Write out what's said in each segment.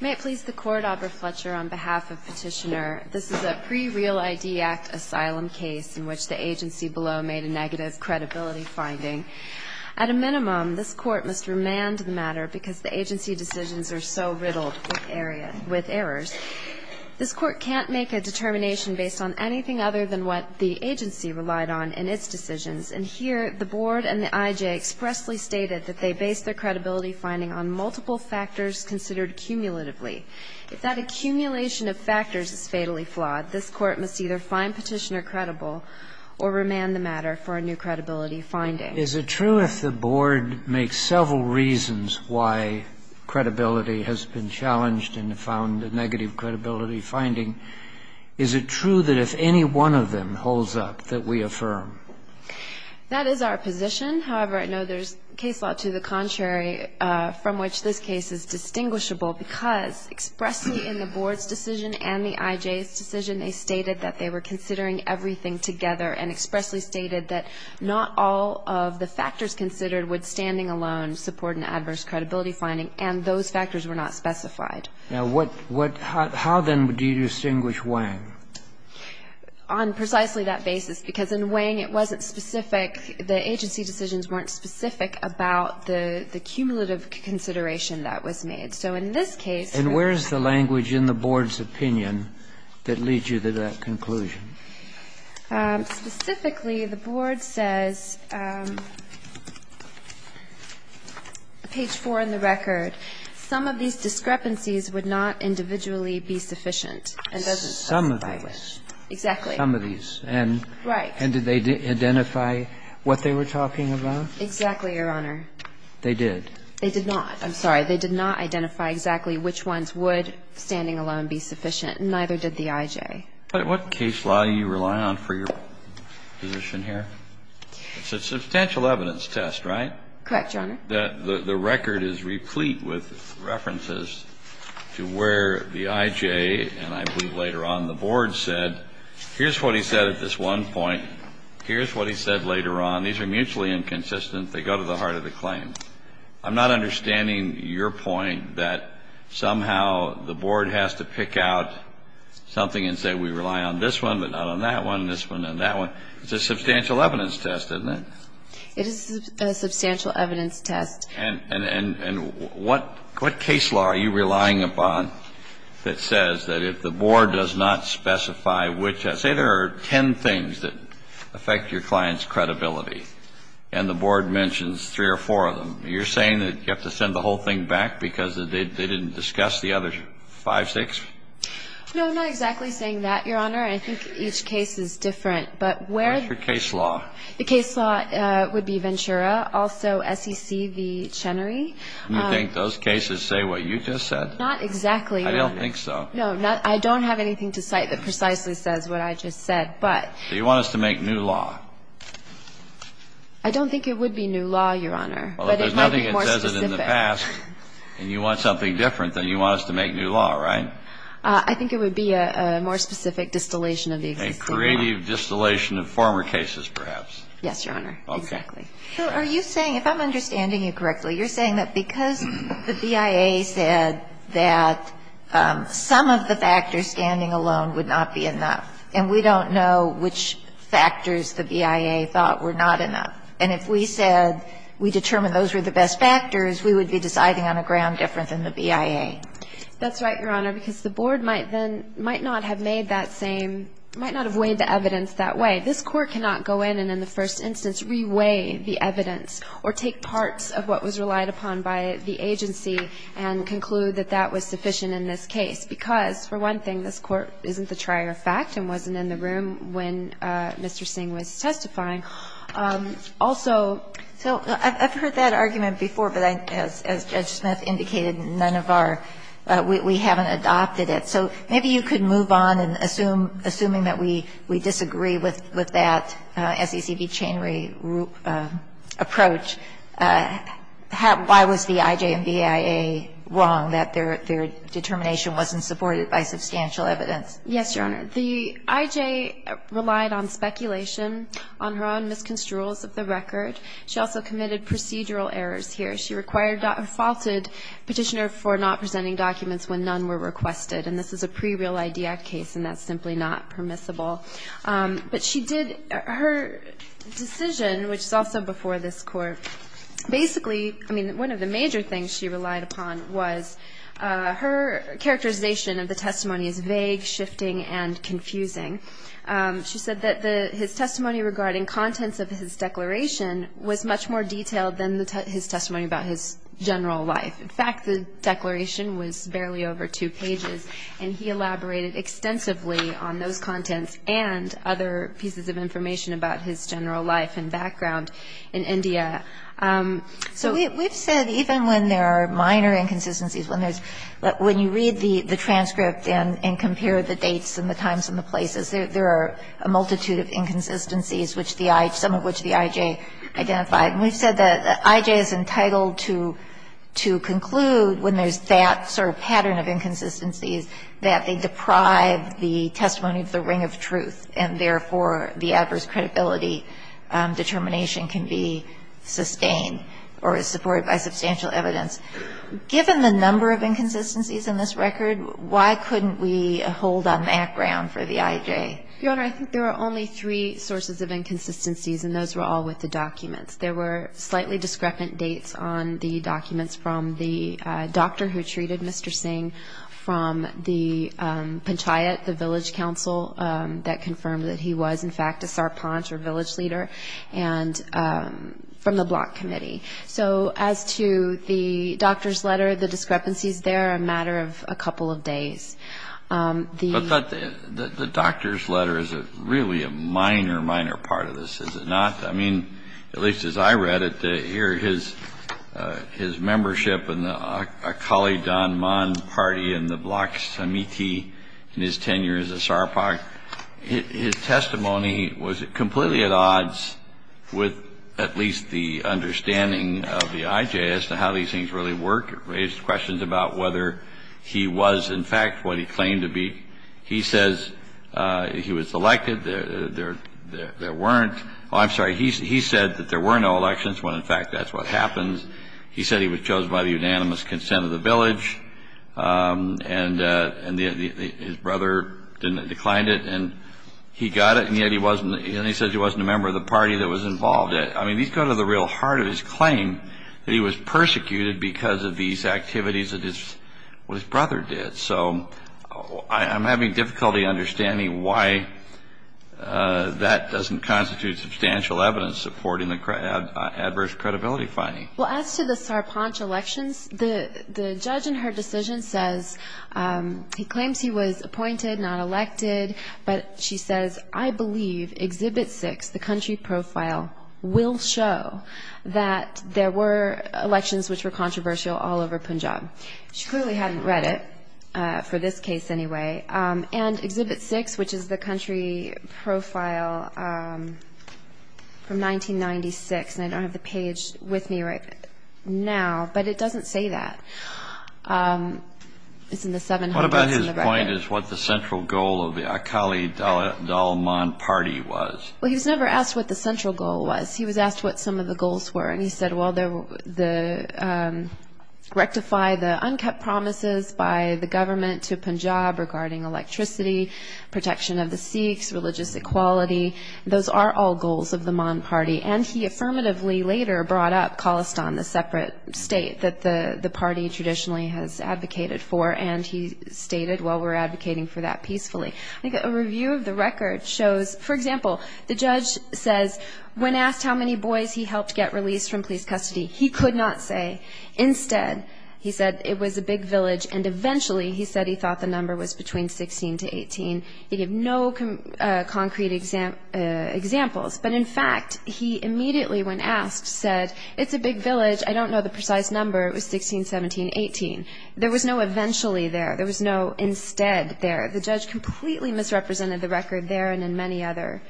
May it please the Court, Amber Fletcher, on behalf of Petitioner, this is a pre-Real I.D. Act asylum case in which the agency below made a negative credibility finding. At a minimum, this Court must remand the matter because the agency decisions are so riddled with errors. This Court can't make a determination based on anything other than what the agency relied on in its decisions. And here, the Board and the I.J. expressly stated that they base their credibility finding on multiple factors considered cumulatively. If that accumulation of factors is fatally flawed, this Court must either find Petitioner credible or remand the matter for a new credibility finding. Is it true if the Board makes several reasons why credibility has been challenged and found a negative credibility finding, is it true that if any one of them holds up that we affirm? That is our position. However, I know there's case law to the contrary from which this case is distinguishable because expressly in the Board's decision and the I.J.'s decision, they stated that they were considering everything together and expressly stated that not all of the factors considered would standing alone support an adverse credibility finding, and those factors were not specified. Now, what – how then do you distinguish Wang? On precisely that basis, because in Wang it wasn't specific, the agency decisions weren't specific about the cumulative consideration that was made. So in this case we're going to say that the Board's decision was based on a cumulative consideration of the factors. And where is the language in the Board's opinion that leads you to that conclusion? Specifically, the Board says, page 4 in the record, some of these discrepancies would not individually be sufficient and doesn't specify which. Some of these. Exactly. Some of these. Right. And did they identify what they were talking about? Exactly, Your Honor. They did. They did not. I'm sorry. They did not identify exactly which ones would standing alone be sufficient, and neither did the I.J. But what case law do you rely on for your position here? It's a substantial evidence test, right? Correct, Your Honor. The record is replete with references to where the I.J. and I believe later on the Board said, here's what he said at this one point. Here's what he said later on. These are mutually inconsistent. They go to the heart of the claim. I'm not understanding your point that somehow the Board has to pick out something and say, we rely on this one, but not on that one, this one, and that one. It's a substantial evidence test, isn't it? It is a substantial evidence test. And what case law are you relying upon that says that if the Board does not specify which – say there are ten things that affect your client's credibility, and the Board mentions three or four of them, you're saying that you have to send the whole thing back because they didn't discuss the other five, six? No, I'm not exactly saying that, Your Honor. I think each case is different. But where – What's your case law? The case law would be Ventura, also SEC v. Chenery. Do you think those cases say what you just said? Not exactly, Your Honor. I don't think so. No. I don't have anything to cite that precisely says what I just said. But – Do you want us to make new law? I don't think it would be new law, Your Honor. Well, there's nothing that says it in the past, and you want something different than you want us to make new law, right? I think it would be a more specific distillation of the existing law. Creative distillation of former cases, perhaps. Yes, Your Honor. Exactly. So are you saying – if I'm understanding you correctly, you're saying that because the BIA said that some of the factors standing alone would not be enough, and we don't know which factors the BIA thought were not enough, and if we said we determined those were the best factors, we would be deciding on a ground different than the BIA. That's right, Your Honor, because the Board might then – might not have made that same – might not have weighed the evidence that way. This Court cannot go in and, in the first instance, re-weigh the evidence or take parts of what was relied upon by the agency and conclude that that was sufficient in this case, because, for one thing, this Court isn't the trier of fact and wasn't in the room when Mr. Singh was testifying. Also – So I've heard that argument before, but I – as Judge Smith indicated, none of our We haven't adopted it. So maybe you could move on, and assuming that we disagree with that SECB-Cheney approach, why was the IJ and BIA wrong that their determination wasn't supported by substantial evidence? Yes, Your Honor. The IJ relied on speculation, on her own misconstruals of the record. She also committed procedural errors here. She required – faulted Petitioner for not presenting documents when none were requested, and this is a pre-Real ID Act case, and that's simply not permissible. But she did – her decision, which is also before this Court, basically – I mean, one of the major things she relied upon was her characterization of the testimony as vague, shifting, and confusing. She said that the – his testimony regarding contents of his declaration was much more detailed than the – his testimony about his general life. In fact, the declaration was barely over two pages, and he elaborated extensively on those contents and other pieces of information about his general life and background in India. So we've said even when there are minor inconsistencies, when there's – when you read the transcript and compare the dates and the times and the places, there are a multitude of inconsistencies, which the – some of which the IJ identified. And we've said that IJ is entitled to – to conclude when there's that sort of pattern of inconsistencies, that they deprive the testimony of the ring of truth, and therefore, the adverse credibility determination can be sustained or is supported by substantial evidence. Given the number of inconsistencies in this record, why couldn't we hold on that ground for the IJ? Your Honor, I think there are only three sources of inconsistencies, and those were all with the documents. There were slightly discrepant dates on the documents from the doctor who treated Mr. Singh, from the panchayat, the village council, that confirmed that he was, in fact, a sarpanch or village leader, and from the block committee. So as to the doctor's letter, the discrepancies there are a matter of a couple of days. The – But that – the doctor's letter is really a minor, minor part of this, is it not? I mean, at least as I read it, here, his – his membership in the Akali Dhanman party in the block committee in his tenure as a sarpanch, his testimony was completely at odds with at least the understanding of the IJ as to how these things really work. It raised questions about whether he was, in fact, what he claimed to be. He says he was elected, there weren't – oh, I'm sorry, he said that there were no elections when, in fact, that's what happens. He said he was chosen by the unanimous consent of the village, and his brother declined it, and he got it, and yet he wasn't – and he says he wasn't a member of the party that was involved. I mean, these go to the real heart of his claim, that he was persecuted because of these activities that his – what That doesn't constitute substantial evidence supporting the adverse credibility finding. Well, as to the sarpanch elections, the judge in her decision says he claims he was appointed, not elected, but she says, I believe Exhibit 6, the country profile, will show that there were elections which were controversial all over Punjab. She clearly hadn't read it, for this case, anyway. And Exhibit 6, which is the country profile from 1996, and I don't have the page with me right now, but it doesn't say that. It's in the 700s in the record. What about his point as to what the central goal of the Akali Dalman party was? Well, he was never asked what the central goal was. He was asked what some of the goals were, and he said, well, the – rectify the unkept promises by the government to Punjab regarding electricity, protection of the Sikhs, religious equality. Those are all goals of the Dalman party, and he affirmatively later brought up Khalistan, the separate state that the party traditionally has advocated for, and he stated, well, we're advocating for that peacefully. I think a review of the record shows – for example, the judge says, when asked how many boys he helped get released from police custody, he could not say. Instead, he said it was a big village, and eventually, he said he thought the number was between 16 to 18. He gave no concrete examples, but in fact, he immediately, when asked, said, it's a big village. I don't know the precise number. It was 16, 17, 18. There was no eventually there. There was no instead there. The judge completely misrepresented the record there and in many other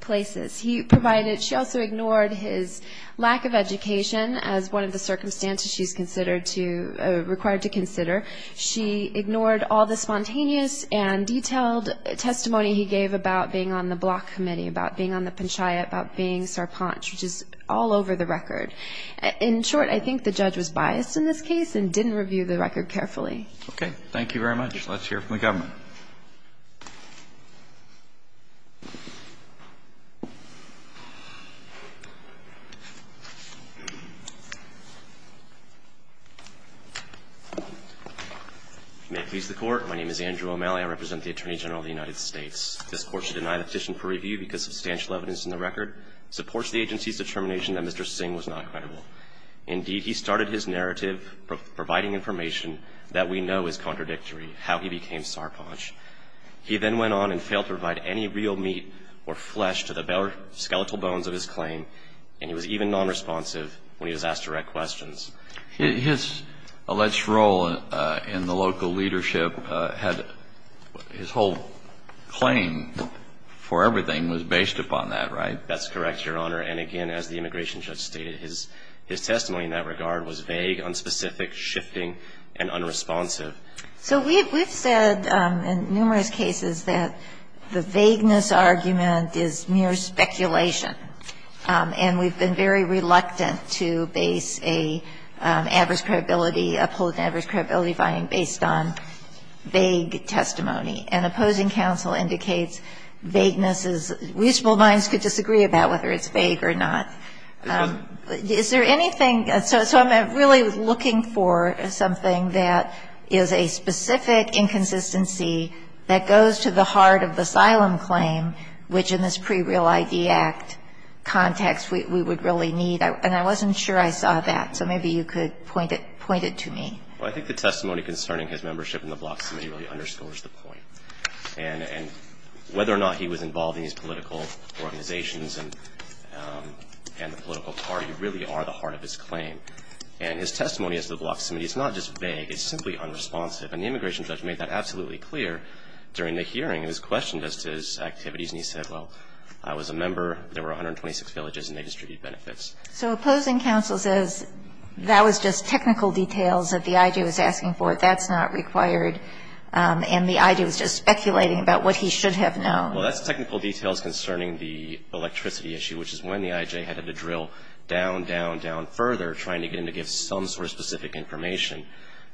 places. He provided – she also ignored his lack of education as one of the circumstances she's considered to – required to consider. She ignored all the spontaneous and detailed testimony he gave about being on the block committee, about being on the panchayat, about being Sarpanch, which is all over the record. In short, I think the judge was biased in this case and didn't review the record carefully. Okay. Thank you very much. Let's hear from the government. If you may please the Court, my name is Andrew O'Malley. I represent the Attorney General of the United States. This Court should deny the petition for review because substantial evidence in the record supports the agency's determination that Mr. Singh was not credible. Indeed, he started his narrative providing information that we know is contradictory, how he became Sarpanch. He then went on and failed to provide any real meat or flesh to the skeletal bones of his claim, and he was even nonresponsive when he was asked direct questions. His alleged role in the local leadership had – his whole claim for everything was based upon that, right? That's correct, Your Honor. And again, as the immigration judge stated, his testimony in that regard was vague, unspecific, shifting, and unresponsive. So we've said in numerous cases that the vagueness argument is mere speculation, and we've been very reluctant to base a adverse credibility, uphold an adverse credibility finding based on vague testimony. And opposing counsel indicates vagueness is – reasonable minds could disagree about whether it's vague or not. Is there anything – so I'm really looking for something that is a specific inconsistency that goes to the heart of the asylum claim, which in this pre-Real ID Act context we would really need. And I wasn't sure I saw that, so maybe you could point it to me. Well, I think the testimony concerning his membership in the Block Submit really underscores the point. And whether or not he was involved in these political organizations and the political party really are the heart of his claim. And his testimony as to the Block Submit, it's not just vague, it's simply unresponsive. And the immigration judge made that absolutely clear during the hearing. He was questioned as to his activities, and he said, well, I was a member, there were 126 villages, and they distributed benefits. So opposing counsel says that was just technical details that the IJ was asking for. That's not required. And the IJ was just speculating about what he should have known. Well, that's technical details concerning the electricity issue, which is when the IJ had to drill down, down, down further trying to get him to give some sort of specific information.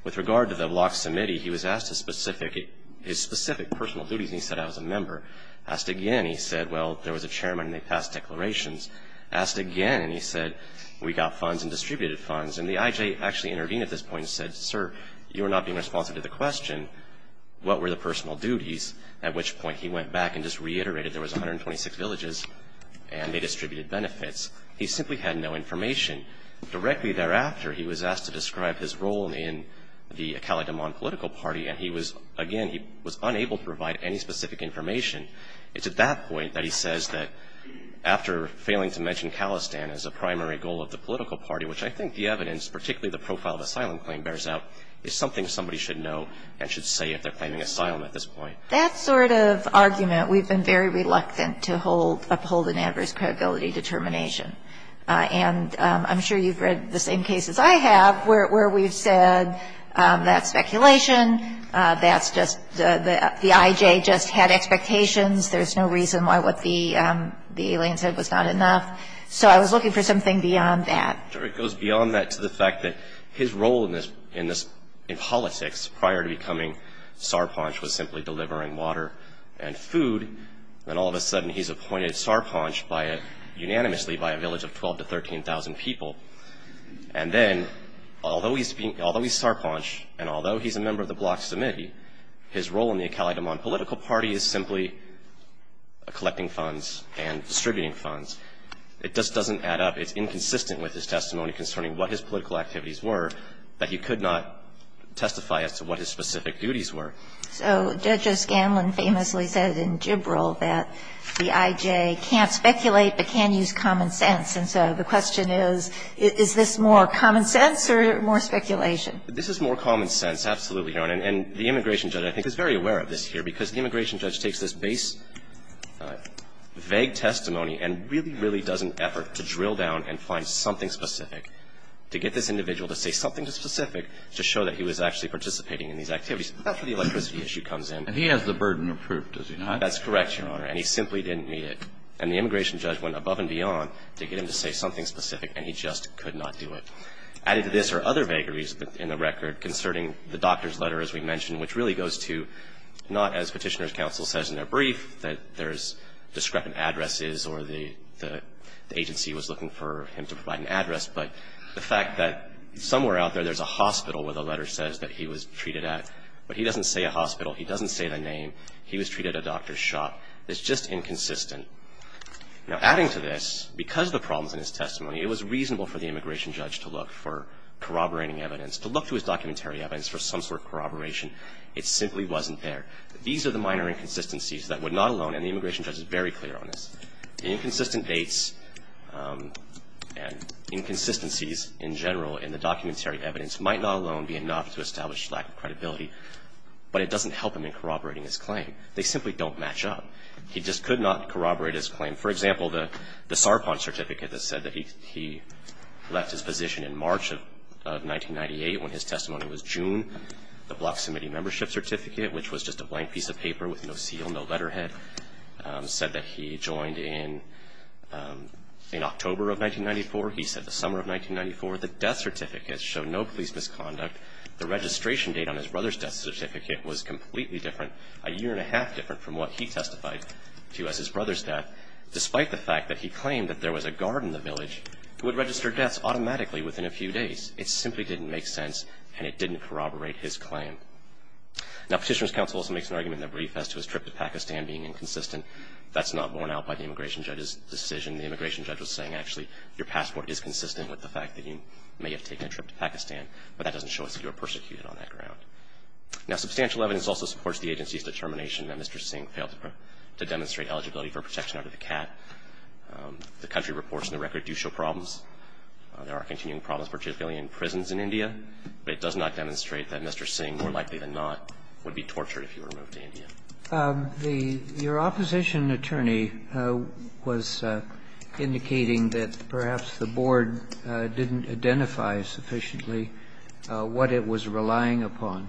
With regard to the Block Submittee, he was asked a specific – his specific personal duties, and he said, I was a member. Asked again, he said, well, there was a chairman and they passed declarations. Asked again, and he said, we got funds and distributed funds. And the IJ actually intervened at this point and said, sir, you are not being responsive to the question. What were the personal duties? At which point he went back and just reiterated there was 126 villages, and they distributed benefits. He simply had no information. Directly thereafter, he was asked to describe his role in the Khaled Amman political party, and he was – again, he was unable to provide any specific information. It's at that point that he says that after failing to mention Khalistan as a political party, he was asked to describe his role in the Khaled Amman And that's the sort of argument that I think is the most important argument that the IJ has to make, and it's particularly the profile of asylum claim bears out, is something somebody should know and should say if they're claiming asylum at this point. That sort of argument, we've been very reluctant to uphold an adverse credibility determination. And I'm sure you've read the same cases I have where we've said that's speculation, that's just – the IJ just had expectations, there's no reason why what the alien said was not enough. So I was looking for something beyond that. Sure. It goes beyond that to the fact that his role in politics prior to becoming Sarpanch was simply delivering water and food, and all of a sudden he's appointed Sarpanch by a – unanimously by a village of 12,000 to 13,000 people. And then, although he's Sarpanch, and although he's a member of the Bloc's committee, his role in the Khaled Amman political party is simply collecting funds and distributing funds. It just doesn't add up. It's inconsistent with his testimony concerning what his political activities were that he could not testify as to what his specific duties were. So Judge O'Scanlan famously said in Gibralt that the IJ can't speculate but can use common sense. And so the question is, is this more common sense or more speculation? This is more common sense, absolutely, Your Honor. And the immigration judge, I think, is very aware of this here because the immigration judge takes this vague testimony and really, really does an effort to drill down and find something specific to get this individual to say something specific to show that he was actually participating in these activities. That's where the electricity issue comes in. And he has the burden of proof, does he not? That's correct, Your Honor. And he simply didn't meet it. And the immigration judge went above and beyond to get him to say something specific, and he just could not do it. Added to this are other vagaries in the record concerning the doctor's letter, as we mentioned, which really goes to not, as Petitioner's counsel says in their brief, that there's discrepant addresses or the agency was looking for him to provide an address, but the fact that somewhere out there there's a hospital where the letter says that he was treated at, but he doesn't say a hospital. He doesn't say the name. He was treated at a doctor's shop. It's just inconsistent. Now, adding to this, because of the problems in his testimony, it was reasonable for the immigration judge to look for corroborating evidence, to look to his documentary evidence for some sort of corroboration. It simply wasn't there. These are the minor inconsistencies that would not alone, and the immigration judge is very clear on this, inconsistent dates and inconsistencies in general in the documentary evidence might not alone be enough to establish lack of credibility, but it doesn't help him in corroborating his claim. They simply don't match up. He just could not corroborate his claim. For example, the Sarpon certificate that said that he left his position in March of 1998 when his testimony was June. The Block Semity membership certificate, which was just a blank piece of paper with no seal, no letterhead, said that he joined in October of 1994. He said the summer of 1994, the death certificate showed no police misconduct. The registration date on his brother's death certificate was completely different, a year and a half different from what he testified to as his brother's death, despite the fact that he claimed that there was a guard in the village who would register deaths automatically within a few days. It simply didn't make sense, and it didn't corroborate his claim. Now, Petitioner's counsel also makes an argument in the brief as to his trip to Pakistan being inconsistent. That's not borne out by the immigration judge's decision. The immigration judge was saying, actually, your passport is consistent with the fact that you may have taken a trip to Pakistan, but that doesn't show us that you were persecuted on that ground. Now, substantial evidence also supports the agency's determination that Mr. Singh failed to demonstrate eligibility for protection under the CAT. The country reports in the record do show problems. There are continuing problems, particularly in prisons in India. But it does not demonstrate that Mr. Singh, more likely than not, would be tortured if he were moved to India. Your opposition attorney was indicating that perhaps the board didn't identify sufficiently what it was relying upon.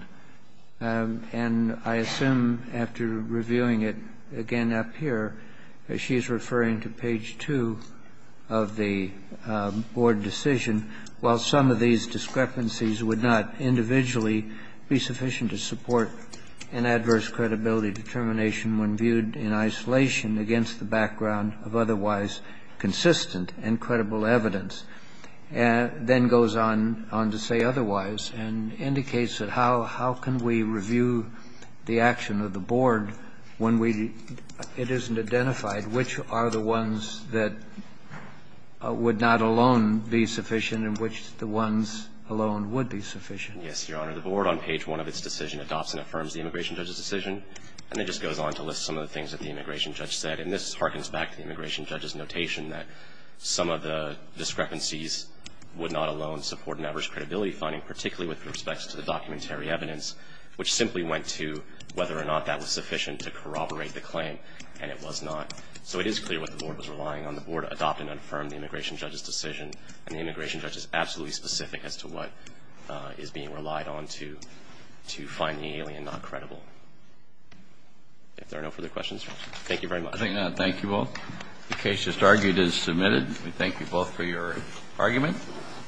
And I assume, after reviewing it again up here, she is referring to page 2 of the board decision, while some of these discrepancies would not individually be sufficient to support an adverse credibility determination when viewed in isolation against the background of otherwise consistent and credible evidence. Then goes on to say otherwise and indicates that how can we review the action of the board when it isn't identified which are the ones that would not alone be sufficient and which the ones alone would be sufficient? Yes, Your Honor. The board on page 1 of its decision adopts and affirms the immigration judge's decision. And it just goes on to list some of the things that the immigration judge said. And this harkens back to the immigration judge's notation that some of the discrepancies would not alone support an adverse credibility finding, particularly with respect to the documentary evidence, which simply went to whether or not that was sufficient to corroborate the claim. And it was not. So it is clear what the board was relying on. The board adopted and affirmed the immigration judge's decision. And the immigration judge is absolutely specific as to what is being relied on to find the alien not credible. If there are no further questions, thank you very much. Thank you all. The case just argued is submitted. We thank you both for your argument.